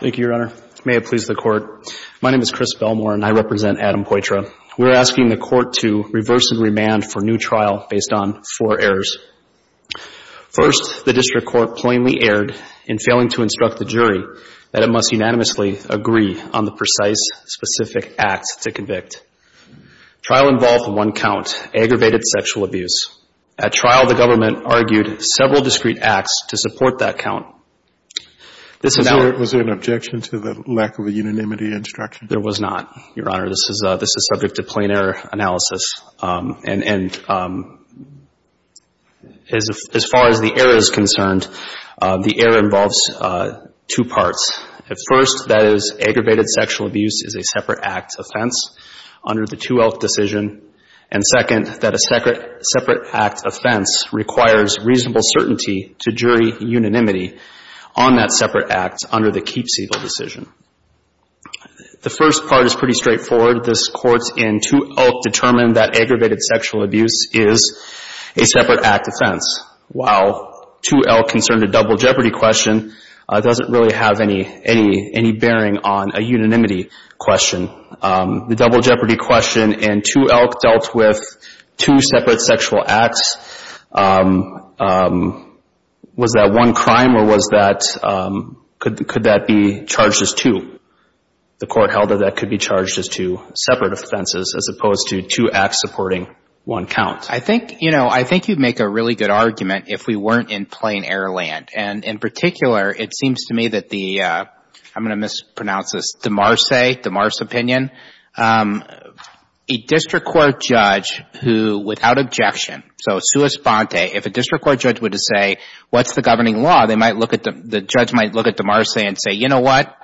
Thank you, Your Honor. May it please the Court. My name is Chris Belmore, and I represent Adam Poitra. We're asking the Court to reverse and remand for new trial based on four errors. First, the District Court plainly erred in failing to instruct the jury that it must unanimously agree on the precise, specific act to convict. Trial involved one count, aggravated sexual abuse. At trial, the government argued several discrete acts to support that Was there an objection to the lack of a unanimity instruction? There was not, Your Honor. This is subject to plain error analysis. And as far as the error is concerned, the error involves two parts. First, that is, aggravated sexual abuse is a separate act offense under the 2L decision. And second, that a separate act offense requires reasonable certainty to jury unanimity on that separate act under the Keeps Evil decision. The first part is pretty straightforward. This Court in 2L determined that aggravated sexual abuse is a separate act offense. While 2L concerned a double jeopardy question, it doesn't really have any bearing on a unanimity question. The double jeopardy question in 2L dealt with two separate sexual acts. Was that one crime or was that, could that be charged as two? The Court held that that could be charged as two separate offenses as opposed to two acts supporting one count. I think, you know, I think you'd make a really good argument if we weren't in plain error land. And in particular, it seems to me that the, I'm going to mispronounce this, De Marse, De Marse opinion, a district court judge who, without objection, so sua governing law, they might look at the, the judge might look at De Marse and say, you know what,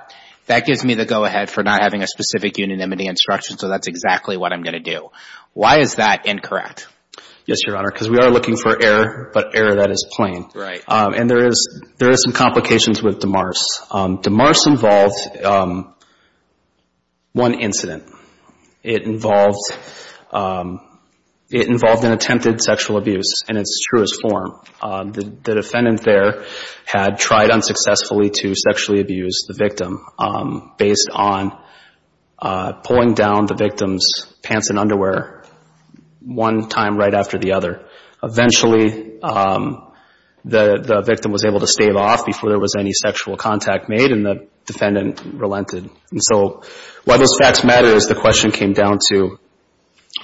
that gives me the go-ahead for not having a specific unanimity instruction, so that's exactly what I'm going to do. Why is that incorrect? Yes, Your Honor, because we are looking for error, but error that is plain. Right. And there is, there is some complications with De Marse. De Marse involved one incident. It involved, it involved an attempted sexual abuse in its truest form. The defendant there had tried unsuccessfully to sexually abuse the victim based on pulling down the victim's pants and underwear one time right after the other. Eventually, the, the victim was able to stave off before there was any sexual contact made and the defendant relented. And so, why those facts matter is the question came down to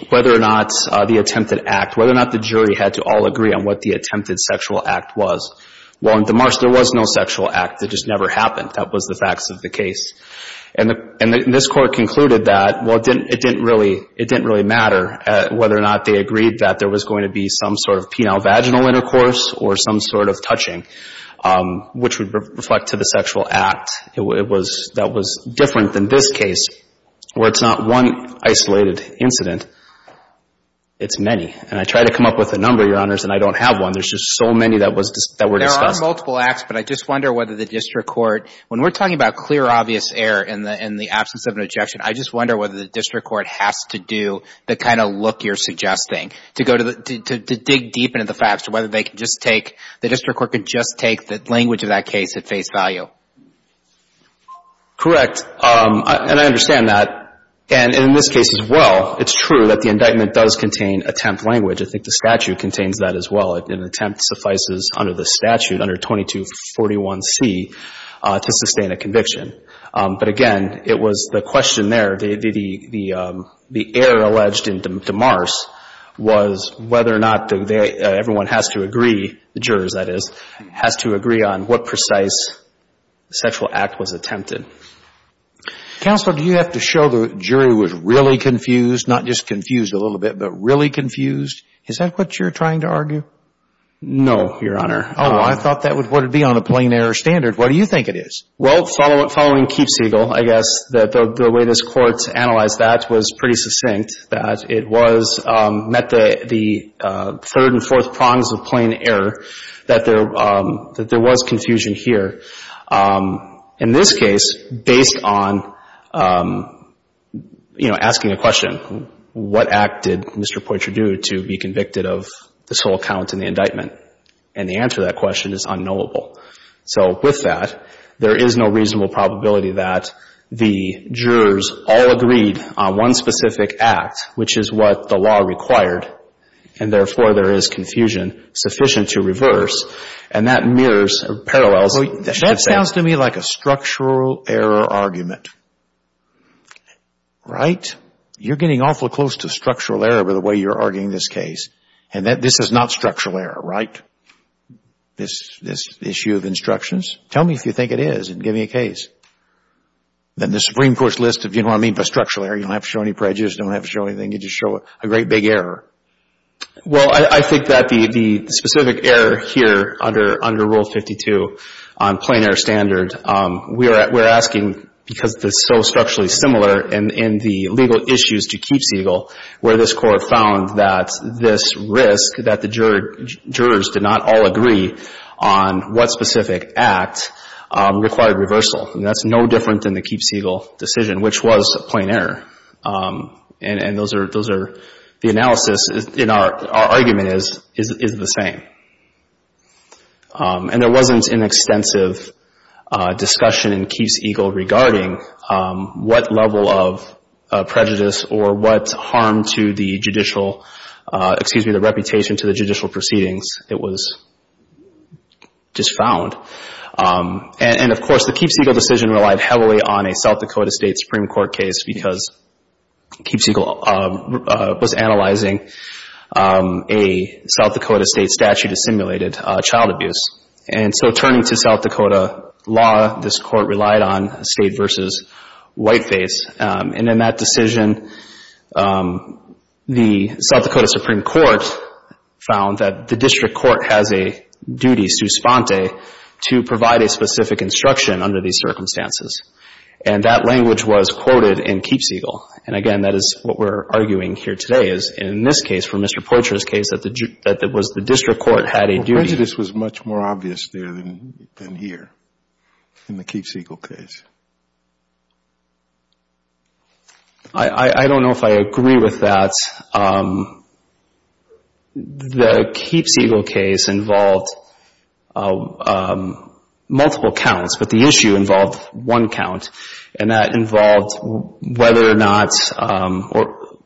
whether or not the attempted act, whether or not the jury had to all agree on what the attempted sexual act was. While in De Marse, there was no sexual act. It just never happened. That was the facts of the case. And the, and this court concluded that, well, it didn't, it didn't really, it didn't really matter whether or not they agreed that there was going to be some sort of penile vaginal intercourse or some sort of touching, which would reflect to the sexual act. It was, that was different than this case, where it's not one isolated incident, it's many. And I tried to come up with a number, Your Honors, and I don't have one. There's just so many that was, that were discussed. There are multiple acts, but I just wonder whether the district court, when we're talking about clear, obvious error in the, in the absence of an objection, I just wonder whether the district court has to do the kind of look you're suggesting to go to the, to, to dig deep into the facts, to whether they could just take, the district court could just take the language of that case at face value. Correct. And I understand that. And in this case as well, it's true that the indictment does contain attempt language. I think the statute contains that as well. An attempt suffices under the statute, under 2241C, to sustain a conviction. But again, it was the question there, the, the, the error alleged in DeMars was whether or not they, everyone has to agree, the jurors that is, has to agree on what precise sexual act was attempted. Counsel, do you have to show the jury was really confused, not just confused a little bit, but really confused? Is that what you're trying to argue? No, Your Honor. Oh, I thought that would, would be on a plain error standard. What do you think it is? Well, following, following Keefe Siegel, I guess, that the, the way this court analyzed that was pretty succinct, that it was, met the, the third and fourth prongs of plain error, that there, that there was confusion here. In this case, based on, you know, asking a question, what act did Mr. Poitra do to be convicted of this whole count in the indictment? And the answer to that question is unknowable. So with that, there is no reasonable probability that the jurors all agreed on one specific act, which is what the law required, and therefore there is confusion sufficient to reverse. And that mirrors, or parallels, what you should say. That sounds to me like a structural error argument. Right? You're getting awful close to structural error with the way you're arguing this case. And that, this is not structural error, right? This, this issue of instructions? Tell me if you think it is and give me a case. Then the Supreme Court's list of, you know what I mean by structural error, you don't have to show any prejudice, you don't have to show anything, you just show a great big error. Well, I, I think that the, the specific error here under, under Rule 52 on plain error standard, we are, we're asking because it's so structurally similar in, in the legal issues to Keefe Eagle, where this Court found that this risk, that the jurors did not all agree on what specific act required reversal. And that's no different than the Keefe Eagle decision, which was a plain error. And, and those are, those are, the analysis in our, our argument is, is, is the same. And there wasn't an extensive discussion in Keefe Eagle regarding what level of prejudice or what harm to the judicial, excuse me, the reputation to the judicial proceedings. It was just found. And, and of course, the Keefe Eagle decision relied heavily on a South Dakota State Supreme Court case because Keefe Eagle was analyzing a South Dakota State statute that simulated child abuse. And so turning to South Dakota law, this Court relied on state versus white face. And in that decision, the South Dakota Supreme Court found that the district court has a duty, su sponte, to provide a specific instruction under these circumstances. And that language was quoted in Keefe Eagle. And again, that is what we're arguing here today is, in this case, for Mr. Poitras' case, that the, that it was the district court had a duty. Prejudice was much more obvious there than, than here in the Keefe Eagle case. I don't know if I agree with that. The Keefe Eagle case involved multiple counts, but the issue involved one count. And that involved whether or not, or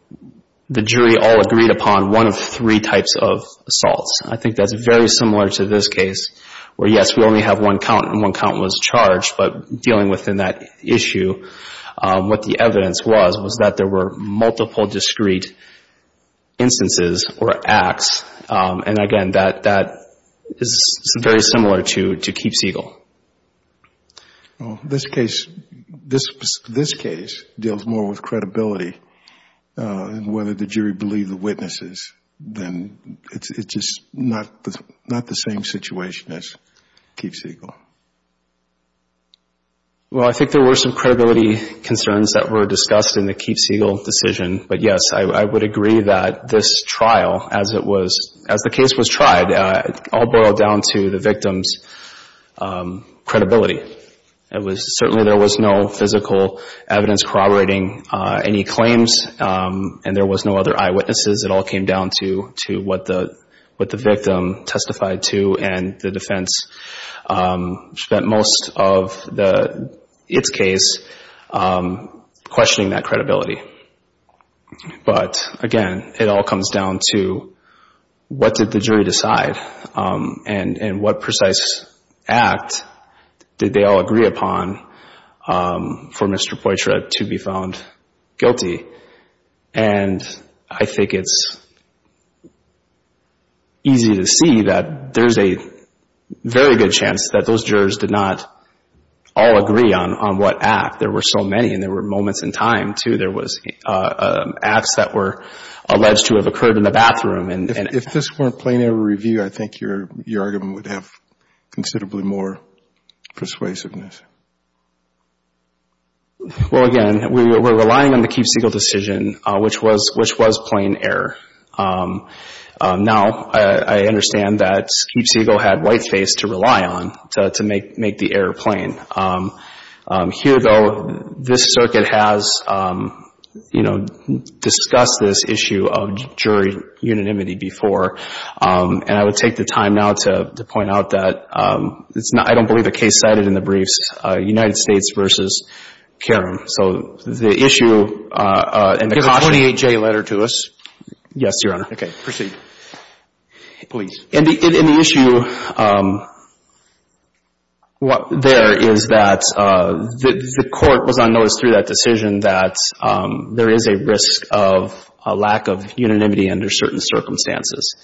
the jury all agreed upon one of three types of assaults. I think that's very similar to this case where, yes, we only have one count and one count was charged. But dealing within that issue, what the evidence was was that there were multiple discrete instances or acts. And again, that, that is very similar to, to Keefe Eagle. This case, this, this case deals more with credibility and whether the jury believed the witnesses, then it's, it's just not, not the same situation as Keefe Eagle. Well, I think there were some credibility concerns that were discussed in the Keefe Eagle decision. But yes, I would agree that this trial, as it was, as the case was tried, all boiled down to the victim's credibility. It was, certainly there was no physical evidence corroborating any claims and there was no other eyewitnesses. It all came down to, to what the, what the victim testified to and the defense spent most of the, its case questioning that credibility. But again, it all comes down to what did the jury decide and, and what precise act did they all agree upon for Mr. Poitra to be found guilty? And I think it's easy to see that there's a very good chance that those jurors did not all agree on, on what act. There were so many and there were moments in time, too. There was acts that were alleged to have occurred in the bathroom and, and... Well, again, we were relying on the Keefe Eagle decision, which was, which was plain error. Now, I understand that Keefe Eagle had white face to rely on to, to make, make the error plain. Here, though, this circuit has, you know, discussed this issue of jury unanimity before. And I would take the time now to, to point out that it's not, I don't believe the case cited in the briefs, United States v. Karam. So the issue and the caution... Can you give a 28-J letter to us? Yes, Your Honor. Okay. Proceed. Please. In the, in the issue, what there is that the, the court was on notice through that decision that there is a risk of a lack of unanimity under certain circumstances.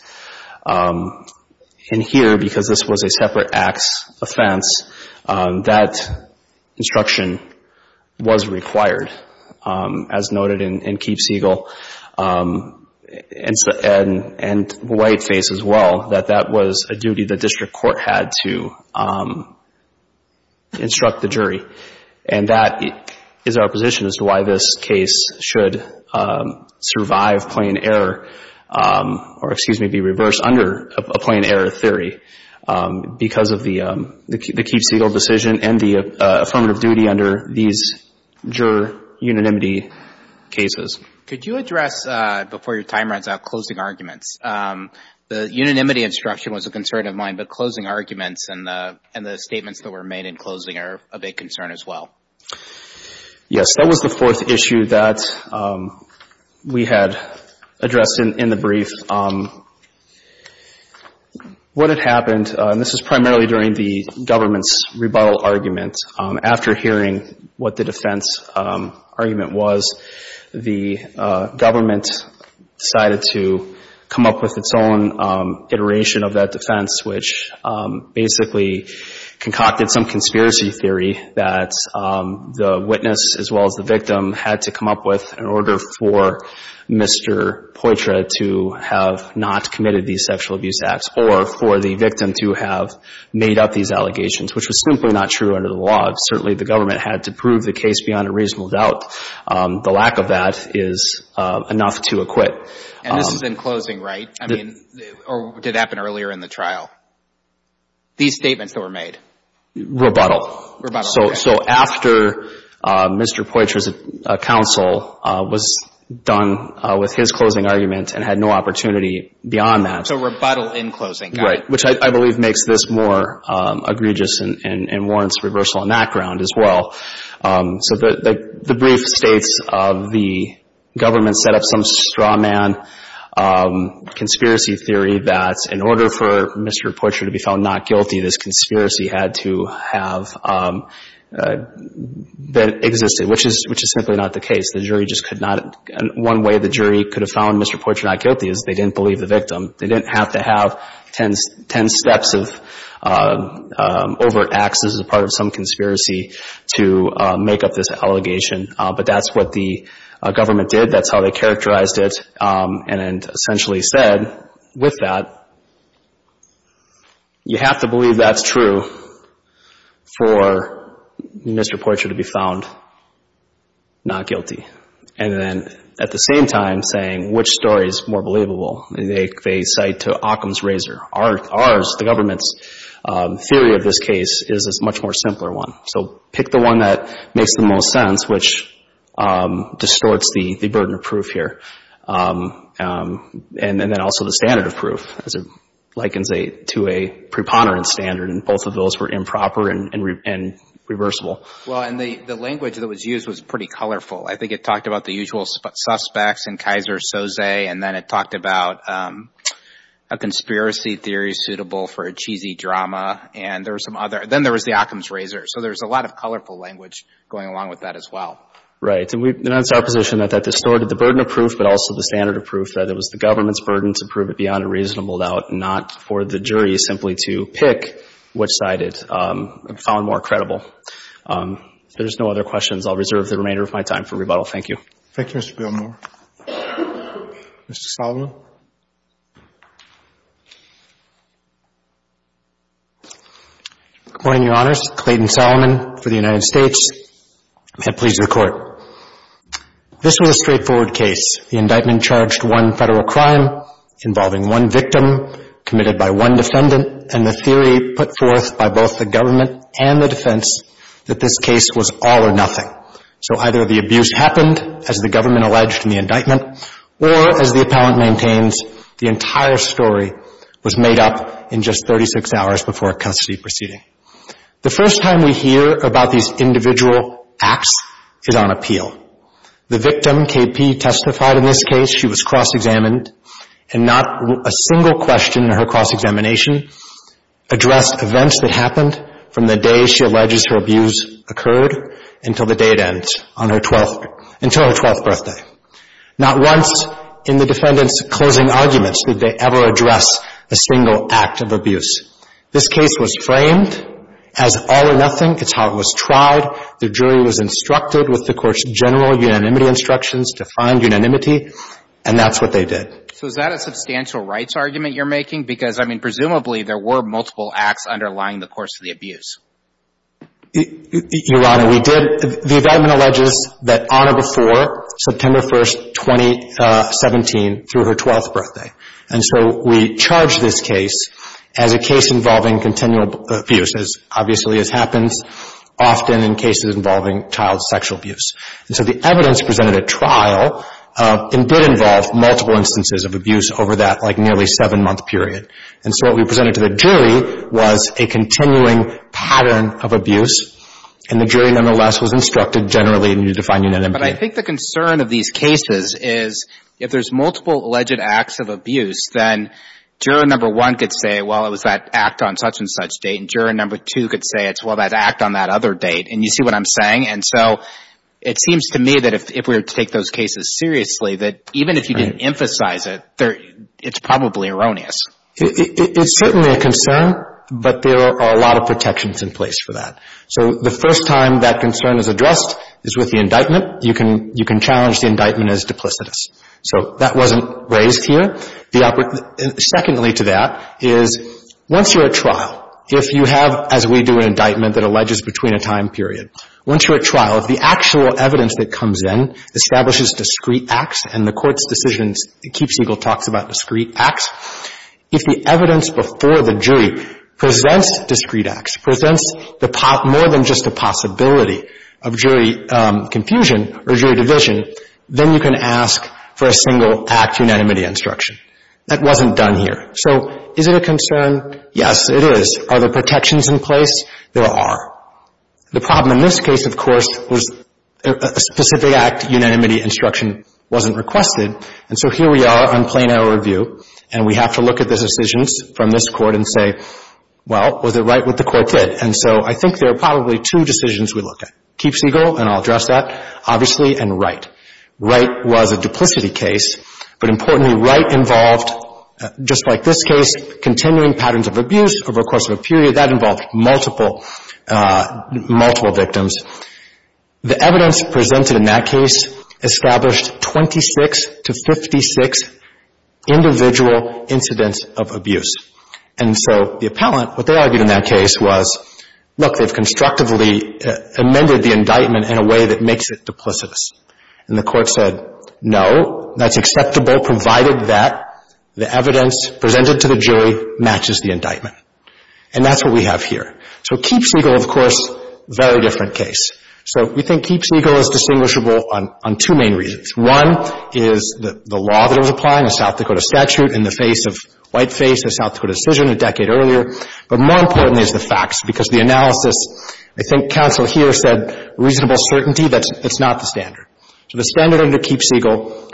And here, because this was a separate acts offense, that instruction was required, as noted in, in Keefe Eagle and white face as well, that that was a duty the district court had to instruct the jury. And that is our position as to why this case should survive plain error or, excuse me, be reversed under a plain error theory, because of the, the Keefe Eagle decision and the affirmative duty under these juror unanimity cases. Could you address, before your time runs out, closing arguments? The unanimity instruction was a concern of mine, but closing arguments and the, and the statements that were made in closing are a big concern as well. Yes. That was the fourth issue that we had addressed in, in the brief. What had happened, and this is primarily during the government's rebuttal argument. After hearing what the defense argument was, the government decided to come up with its own iteration of that defense, which basically concocted some conspiracy theory that the witness as well as the victim had to come up with in order for Mr. Poitra to have not committed these sexual abuse acts or for the victim to have made up these allegations, which was simply not true under the law. Certainly the government had to prove the case beyond a reasonable doubt. The lack of that is enough to acquit. And this is in closing, right? I mean, or did it happen earlier in the trial? These statements that were made? Rebuttal. Rebuttal, okay. So, so after Mr. Poitra's counsel was done with his closing argument and had no opportunity beyond that. So rebuttal in closing, got it. Right. Which I, I believe makes this more egregious and, and warrants reversal on that ground as well. So the, the, the brief states of the government set up some strawman conspiracy theory that in order for Mr. Poitra to be found not guilty, this conspiracy had to have existed, which is, which is simply not the case. The jury just could not, one way the jury could have found Mr. Poitra not guilty is they didn't believe the victim. They didn't have to have 10, 10 steps of overt acts as a part of some conspiracy to make up this allegation. But that's what the government did. That's how they characterized it and essentially said, with that, you have to believe that's true for Mr. Poitra to be found not guilty. And then at the same time saying, which story is more believable, they cite to Occam's razor. Our, ours, the government's theory of this case is a much more simpler one. So pick the one that makes the most sense, which distorts the, the burden of proof here. And, and then also the standard of proof as it likens a, to a preponderance standard and both of those were improper and, and, and reversible. Well, and the, the language that was used was pretty colorful. I think it talked about the usual suspects and Kaiser-Sosay, and then it talked about a conspiracy theory suitable for a cheesy drama. And there were some other, then there was the Occam's razor. So there's a lot of colorful language going along with that as well. Right. And we, and that's our position that that distorted the burden of proof, but also the standard of proof that it was the government's burden to prove it beyond a reasonable doubt, not for the jury simply to pick which side it found more credible. If there's no other questions, I'll reserve the remainder of my time for rebuttal. Thank you. Thank you, Mr. Billmore. Mr. Solomon. Good morning, Your Honors. Clayton Solomon for the United States. May it please the Court. This was a straightforward case. The indictment charged one federal crime involving one victim committed by one defendant, and the theory put forth by both the government and the defense that this case was all or nothing. So either the abuse happened, as the government alleged in the indictment, or, as the appellant maintains, the entire story was made up in just 36 hours before a custody proceeding. The first time we hear about these individual acts is on appeal. The victim, KP, testified in this case. She was cross-examined, and not a single question in her cross-examination addressed events that happened from the day she alleges her abuse occurred until the date ends on her twelfth, until her twelfth birthday. Not once in the defendant's closing arguments did they ever address a single act of abuse. This case was framed as all or nothing. It's how it was tried. The jury was instructed with the Court's general unanimity instructions to find unanimity, and that's what they did. So is that a substantial rights argument you're making? Because, I mean, presumably there were multiple acts underlying the course of the abuse. Your Honor, we did. The indictment alleges that on or before September 1, 2017, through her twelfth birthday. And so we charged this case as a case involving continual abuse, as obviously as happens often in cases involving child sexual abuse. And so the evidence presented at trial did involve multiple instances of abuse over that, like, nearly seven-month period. And so what we presented to the jury was a continuing pattern of abuse, and the jury, nonetheless, was instructed generally to find unanimity. But I think the concern of these cases is if there's multiple alleged acts of abuse, then juror number one could say, well, it was that act on such-and-such date, and juror number two could say it's, well, that act on that other date. And you see what I'm saying? And so it seems to me that if we were to take those cases seriously, that even if you didn't emphasize it, it's probably erroneous. It's certainly a concern, but there are a lot of protections in place for that. So the first time that concern is addressed is with the indictment. You can challenge the indictment as duplicitous. So that wasn't raised here. The second lead to that is once you're at trial, if you have, as we do, an indictment that alleges between a time period, once you're at trial, if the actual evidence that comes in establishes discrete acts and the Court's decisions, it keeps legal talks about discrete acts, if the evidence before the jury presents discrete acts, presents the more than just a possibility of jury confusion or jury division, then you can ask for a single act unanimity instruction. That wasn't done here. So is it a concern? Yes, it is. Are there protections in place? There are. The problem in this case, of course, was a specific act unanimity instruction wasn't requested, and so here we are on plain error review, and we have to look at the decisions from this Court and say, well, was it right what the Court did? And so I think there are probably two decisions we look at, keeps legal, and I'll address that, obviously, and right. Right was a duplicity case, but importantly, right involved, just like this case, continuing patterns of abuse over the course of a period. That involved multiple victims. The evidence presented in that case established 26 to 56 individual incidents of abuse. And so the appellant, what they argued in that case was, look, they've constructively amended the indictment in a way that makes it duplicitous. And the Court said, no, that's acceptable, provided that the evidence presented to the jury matches the indictment. And that's what we have here. So keeps legal, of course, very different case. So we think keeps legal is distinguishable on two main reasons. One is the law that it was applying, the South Dakota statute, in the face of whiteface, the South Dakota decision a decade earlier. But more importantly is the facts, because the analysis, I think counsel here said reasonable certainty, that's not the standard. So the standard under keeps legal,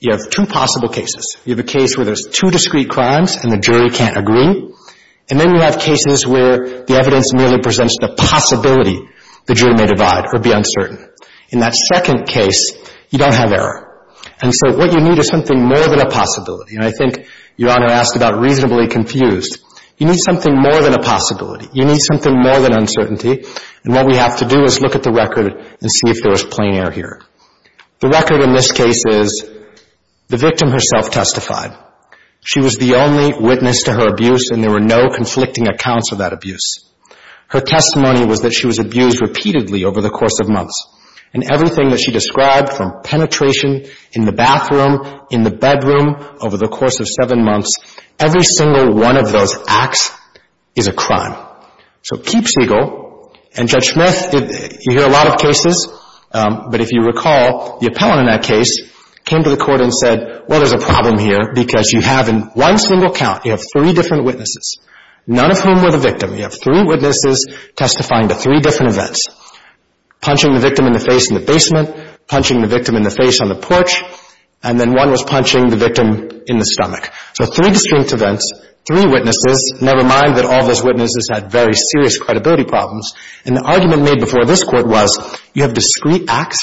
you have two possible cases. You have a case where there's two discrete crimes and the jury can't agree. And then you have cases where the evidence merely presents the possibility the jury may divide or be uncertain. In that second case, you don't have error. And so what you need is something more than a possibility. And I think Your Honor asked about reasonably confused. You need something more than a possibility. You need something more than uncertainty. And what we have to do is look at the record and see if there was plain error here. The record in this case is the victim herself testified. She was the only witness to her abuse and there were no conflicting accounts of that abuse. Her testimony was that she was abused repeatedly over the course of months. And everything that she described from penetration in the bathroom, in the bedroom, over the course of seven months, every single one of those acts is a crime. So keeps legal. And Judge Smith, you hear a lot of cases, but if you recall, the appellant in that case came to the court and said, well, there's a problem here because you have in one single count, you have three different witnesses, none of whom were the victim. You have three witnesses testifying to three different events. Punching the victim in the face in the basement, punching the victim in the face on the porch, and then one was punching the victim in the stomach. So three distinct events, three witnesses, never mind that all those witnesses had very serious credibility problems. And the argument made before this Court was you have discrete acts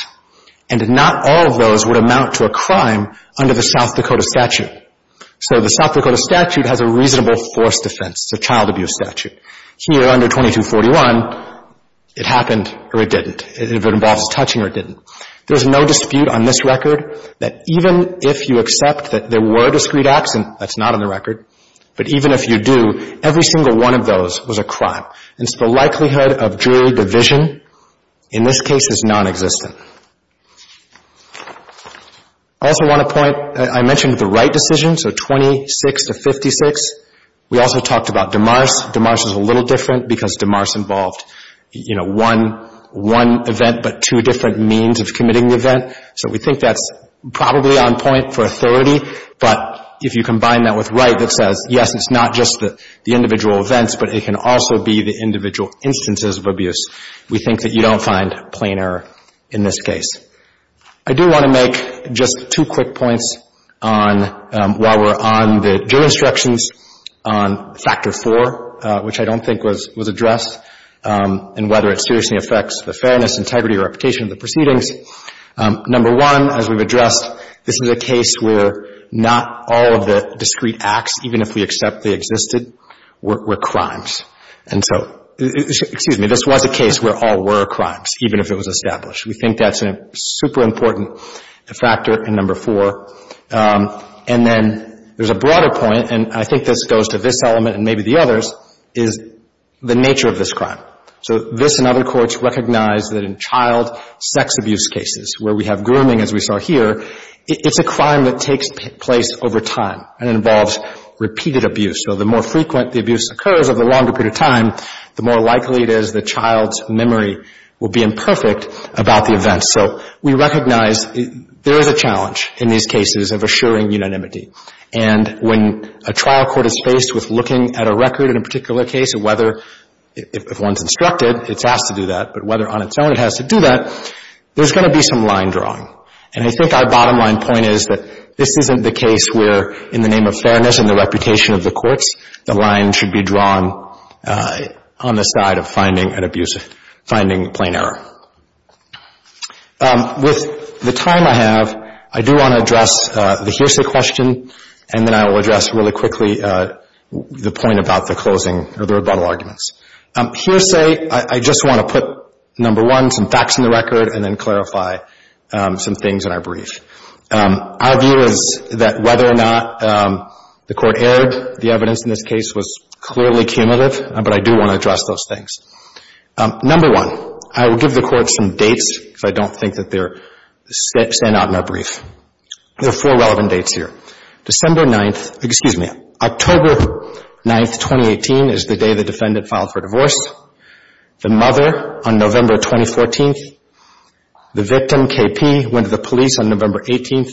and not all of those would amount to a crime under the South Dakota statute. So the South Dakota statute has a reasonable force defense, it's a child abuse statute. Here under 2241, it happened or it didn't. If it involves touching or it didn't. There's no dispute on this record that even if you accept that there were discrete acts, and that's not on the record, but even if you do, every single one of those was a crime. It's the likelihood of jury division in this case is non-existent. I also want to point, I mentioned the Wright decision, so 26-56. We also talked about DeMars. DeMars is a little different because DeMars involved one event but two different means of committing the event. So we think that's probably on point for authority, but if you combine that with Wright that says, yes, it's not just the individual events, but it can also be the individual instances of abuse, we think that you don't find plain error in this case. I do want to make just two quick points on, while we're on the jury instructions, on Factor 4, which I don't think was addressed, and whether it seriously affects the fairness, integrity, or reputation of the proceedings. Number one, as we've addressed, this is a case where not all of the discrete acts, even if we accept they existed, were crimes. And so, excuse me, this was a case where all were crimes, even if it was established. We think that's a super important factor in Number 4. And then there's a broader point, and I think this goes to this element and maybe the others, is the nature of this crime. So this and other courts recognize that in child sex abuse cases, where we have grooming, as we saw here, it's a crime that takes place over time and involves repeated abuse. So the more frequent the abuse occurs over a longer period of time, the more likely it is the child's memory will be imperfect about the event. So we recognize there is a challenge in these cases of assuring unanimity. And when a trial court is faced with looking at a record in a particular case, and whether, if one's instructed, it's asked to do that, but whether on its own it has to do that, there's going to be some line drawing. And I think our bottom line point is that this isn't the case where, in the name of fairness and the reputation of the courts, the line should be drawn on the side of finding a plain error. With the time I have, I do want to address the hearsay question, and then I will address really quickly the point about the closing or the rebuttal arguments. Hearsay, I just want to put, number one, some facts in the record, and then clarify some things in our brief. Our view is that whether or not the court erred, the evidence in this case was clearly cumulative, but I do want to address those things. Number one, I will give the court some dates, because I don't think that they're set out in our brief. There are four relevant dates here. October 9, 2018 is the day the defendant filed for divorce, the mother on November 2014, the victim, KP, went to the police on November 18,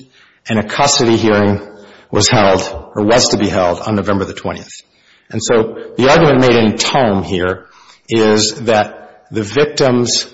and a custody hearing was held, or was to be held, on November 20. And so the argument made in tome here is that the victim's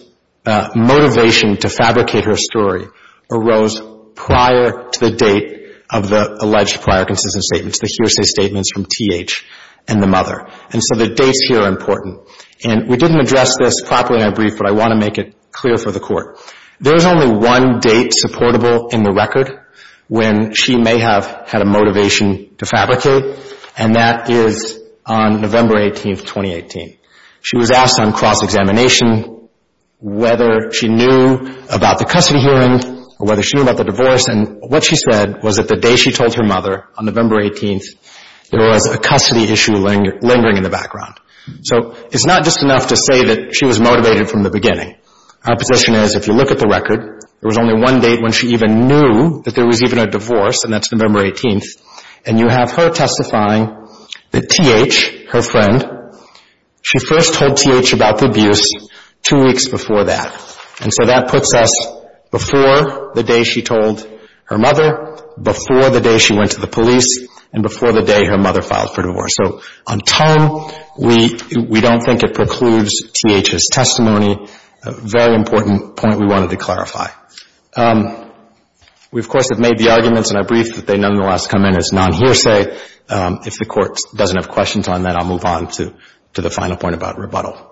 motivation to fabricate her story arose prior to the date of the alleged prior consistent statements, the hearsay statements from TH and the mother. And so the dates here are important. And we didn't address this properly in our brief, but I want to make it clear for the court. There is only one date supportable in the record when she may have had a motivation to fabricate, and that is on November 18, 2018. She was asked on cross-examination whether she knew about the custody hearing or whether she knew about the divorce, and what she said was that the day she told her mother, on November 18, there was a custody issue lingering in the background. So it's not just enough to say that she was motivated from the beginning. Our position is if you look at the record, there was only one date when she even knew that there was even a divorce, and that's November 18, and you have her testifying that TH, her friend, she first told TH about the abuse two weeks before that. And so that puts us before the day she told her mother, before the day she went to the police, and before the day her mother filed for divorce. So on time, we don't think it precludes TH's testimony, a very important point we wanted to clarify. We, of course, have made the arguments in our brief that they nonetheless come in as non-hearsay. If the Court doesn't have questions on that, I'll move on to the final point about rebuttal.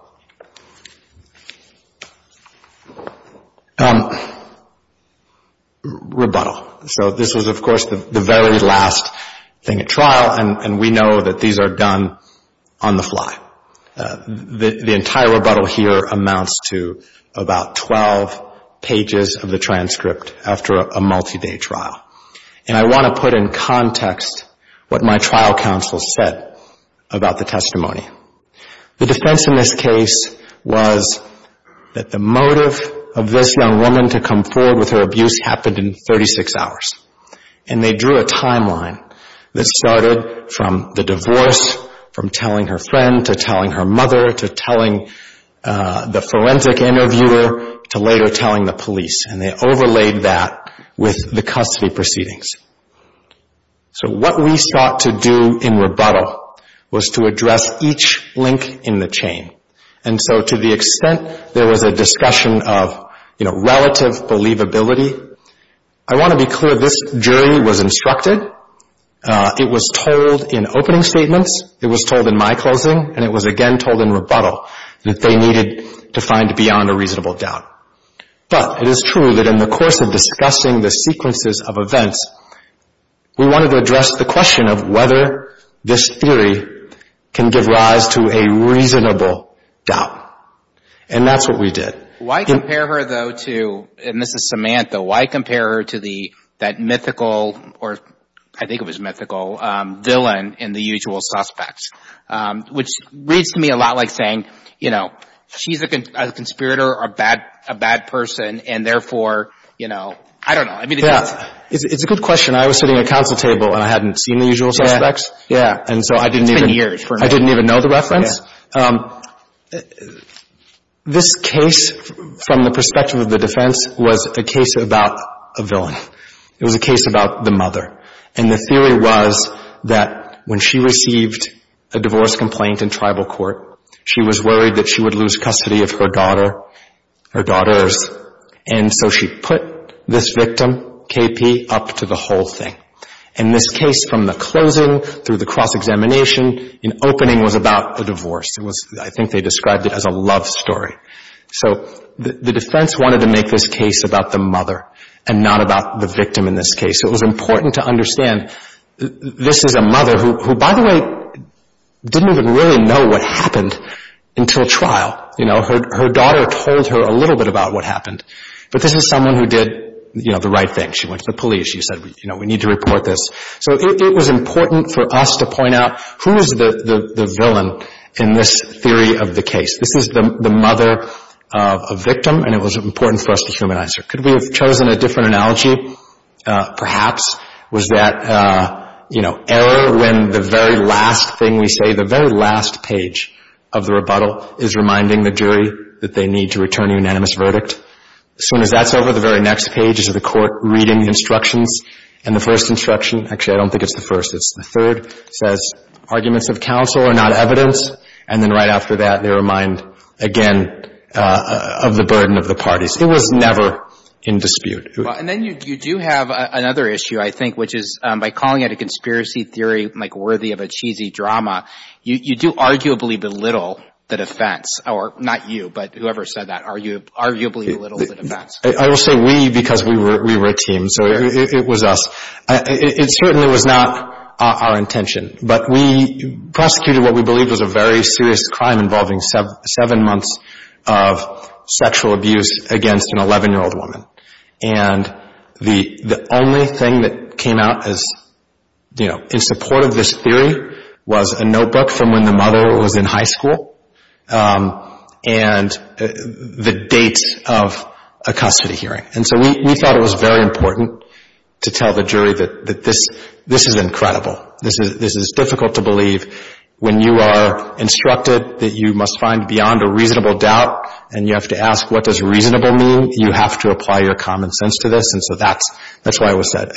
Rebuttal. So this was, of course, the very last thing at trial, and we know that these are done on the fly. The entire rebuttal here amounts to about 12 pages of the transcript after a multi-day trial, and I want to put in context what my trial counsel said about the testimony. The defense in this case was that the motive of this young woman to come forward with her abuse happened in 36 hours, and they drew a timeline that started from the divorce, from telling her friend, to telling her mother, to telling the forensic interviewer, to later that with the custody proceedings. So what we sought to do in rebuttal was to address each link in the chain, and so to the extent there was a discussion of relative believability, I want to be clear, this jury was instructed. It was told in opening statements, it was told in my closing, and it was again told in rebuttal that they needed to find beyond a reasonable doubt. But it is true that in the course of discussing the sequences of events, we wanted to address the question of whether this theory can give rise to a reasonable doubt, and that's what we did. Why compare her, though, to Mrs. Samantha? Why compare her to that mythical, or I think it was mythical, villain in the usual suspects? Which reads to me a lot like saying, you know, she's a conspirator, a bad person, and therefore, you know, I don't know. Yeah. It's a good question. I was sitting at a council table, and I hadn't seen the usual suspects. Yeah. Yeah. And so I didn't even know the reference. This case, from the perspective of the defense, was a case about a villain. It was a case about the mother. And the theory was that when she received a divorce complaint in tribal court, she was worried that she would lose custody of her daughter, her daughters, and so she put this victim, KP, up to the whole thing. And this case, from the closing through the cross-examination and opening, was about a divorce. I think they described it as a love story. So the defense wanted to make this case about the mother and not about the victim in this case. So it was important to understand, this is a mother who, by the way, didn't even really know what happened until trial. You know, her daughter told her a little bit about what happened. But this is someone who did, you know, the right thing. She went to the police. She said, you know, we need to report this. So it was important for us to point out, who is the villain in this theory of the case? This is the mother of a victim, and it was important for us to humanize her. Could we have chosen a different analogy, perhaps? Was that, you know, error when the very last thing we say, the very last page of the rebuttal is reminding the jury that they need to return a unanimous verdict? As soon as that's over, the very next page is the Court reading the instructions, and the first instruction — actually, I don't think it's the first. It's the third — says, arguments of counsel are not evidence. And then right after that, they remind, again, of the burden of the parties. It was never in dispute. Well, and then you do have another issue, I think, which is, by calling it a conspiracy theory, like worthy of a cheesy drama, you do arguably belittle the defense. Or not you, but whoever said that. Arguably belittle the defense. I will say we because we were a team, so it was us. It certainly was not our intention. But we prosecuted what we believed was a very serious crime involving seven months of sexual abuse against an 11-year-old woman. And the only thing that came out as, you know, in support of this theory was a notebook from when the mother was in high school and the date of a custody hearing. And so we thought it was very important to tell the jury that this is incredible. This is difficult to believe when you are instructed that you must find beyond a reasonable doubt and you have to ask what does reasonable mean. You have to apply your common sense to this. And so that's why it was said.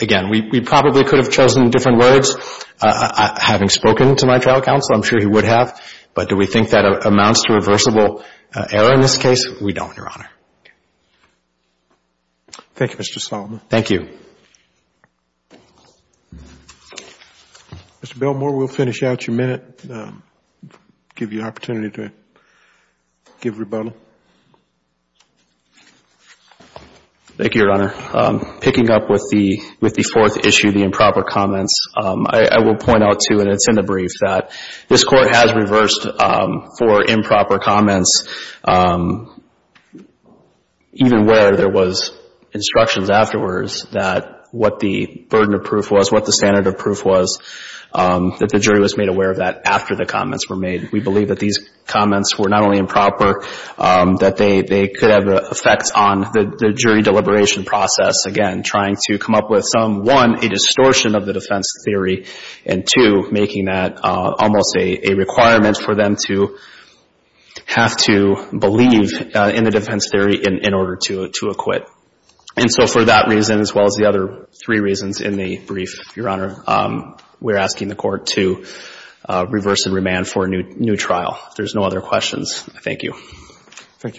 Again, we probably could have chosen different words, having spoken to my trial counsel. I'm sure he would have. But do we think that amounts to reversible error in this case? We don't, Your Honor. Thank you, Mr. Solomon. Thank you. Mr. Belmore, we'll finish out your minute, give you an opportunity to answer any questions you might have. Thank you, Your Honor. Thank you, Your Honor. Picking up with the fourth issue, the improper comments, I will point out, too, and it's in the brief, that this Court has reversed for improper comments, even where there was instructions afterwards that what the burden of proof was, what the standard of proof was, that the jury was made aware of that after the comments were made. And so for that reason, as well as the other three reasons in the brief, Your Honor, we're asking the Court to reverse and remand for a new trial. If there's no other questions, Thank you. Thank you, Mr. Belmore.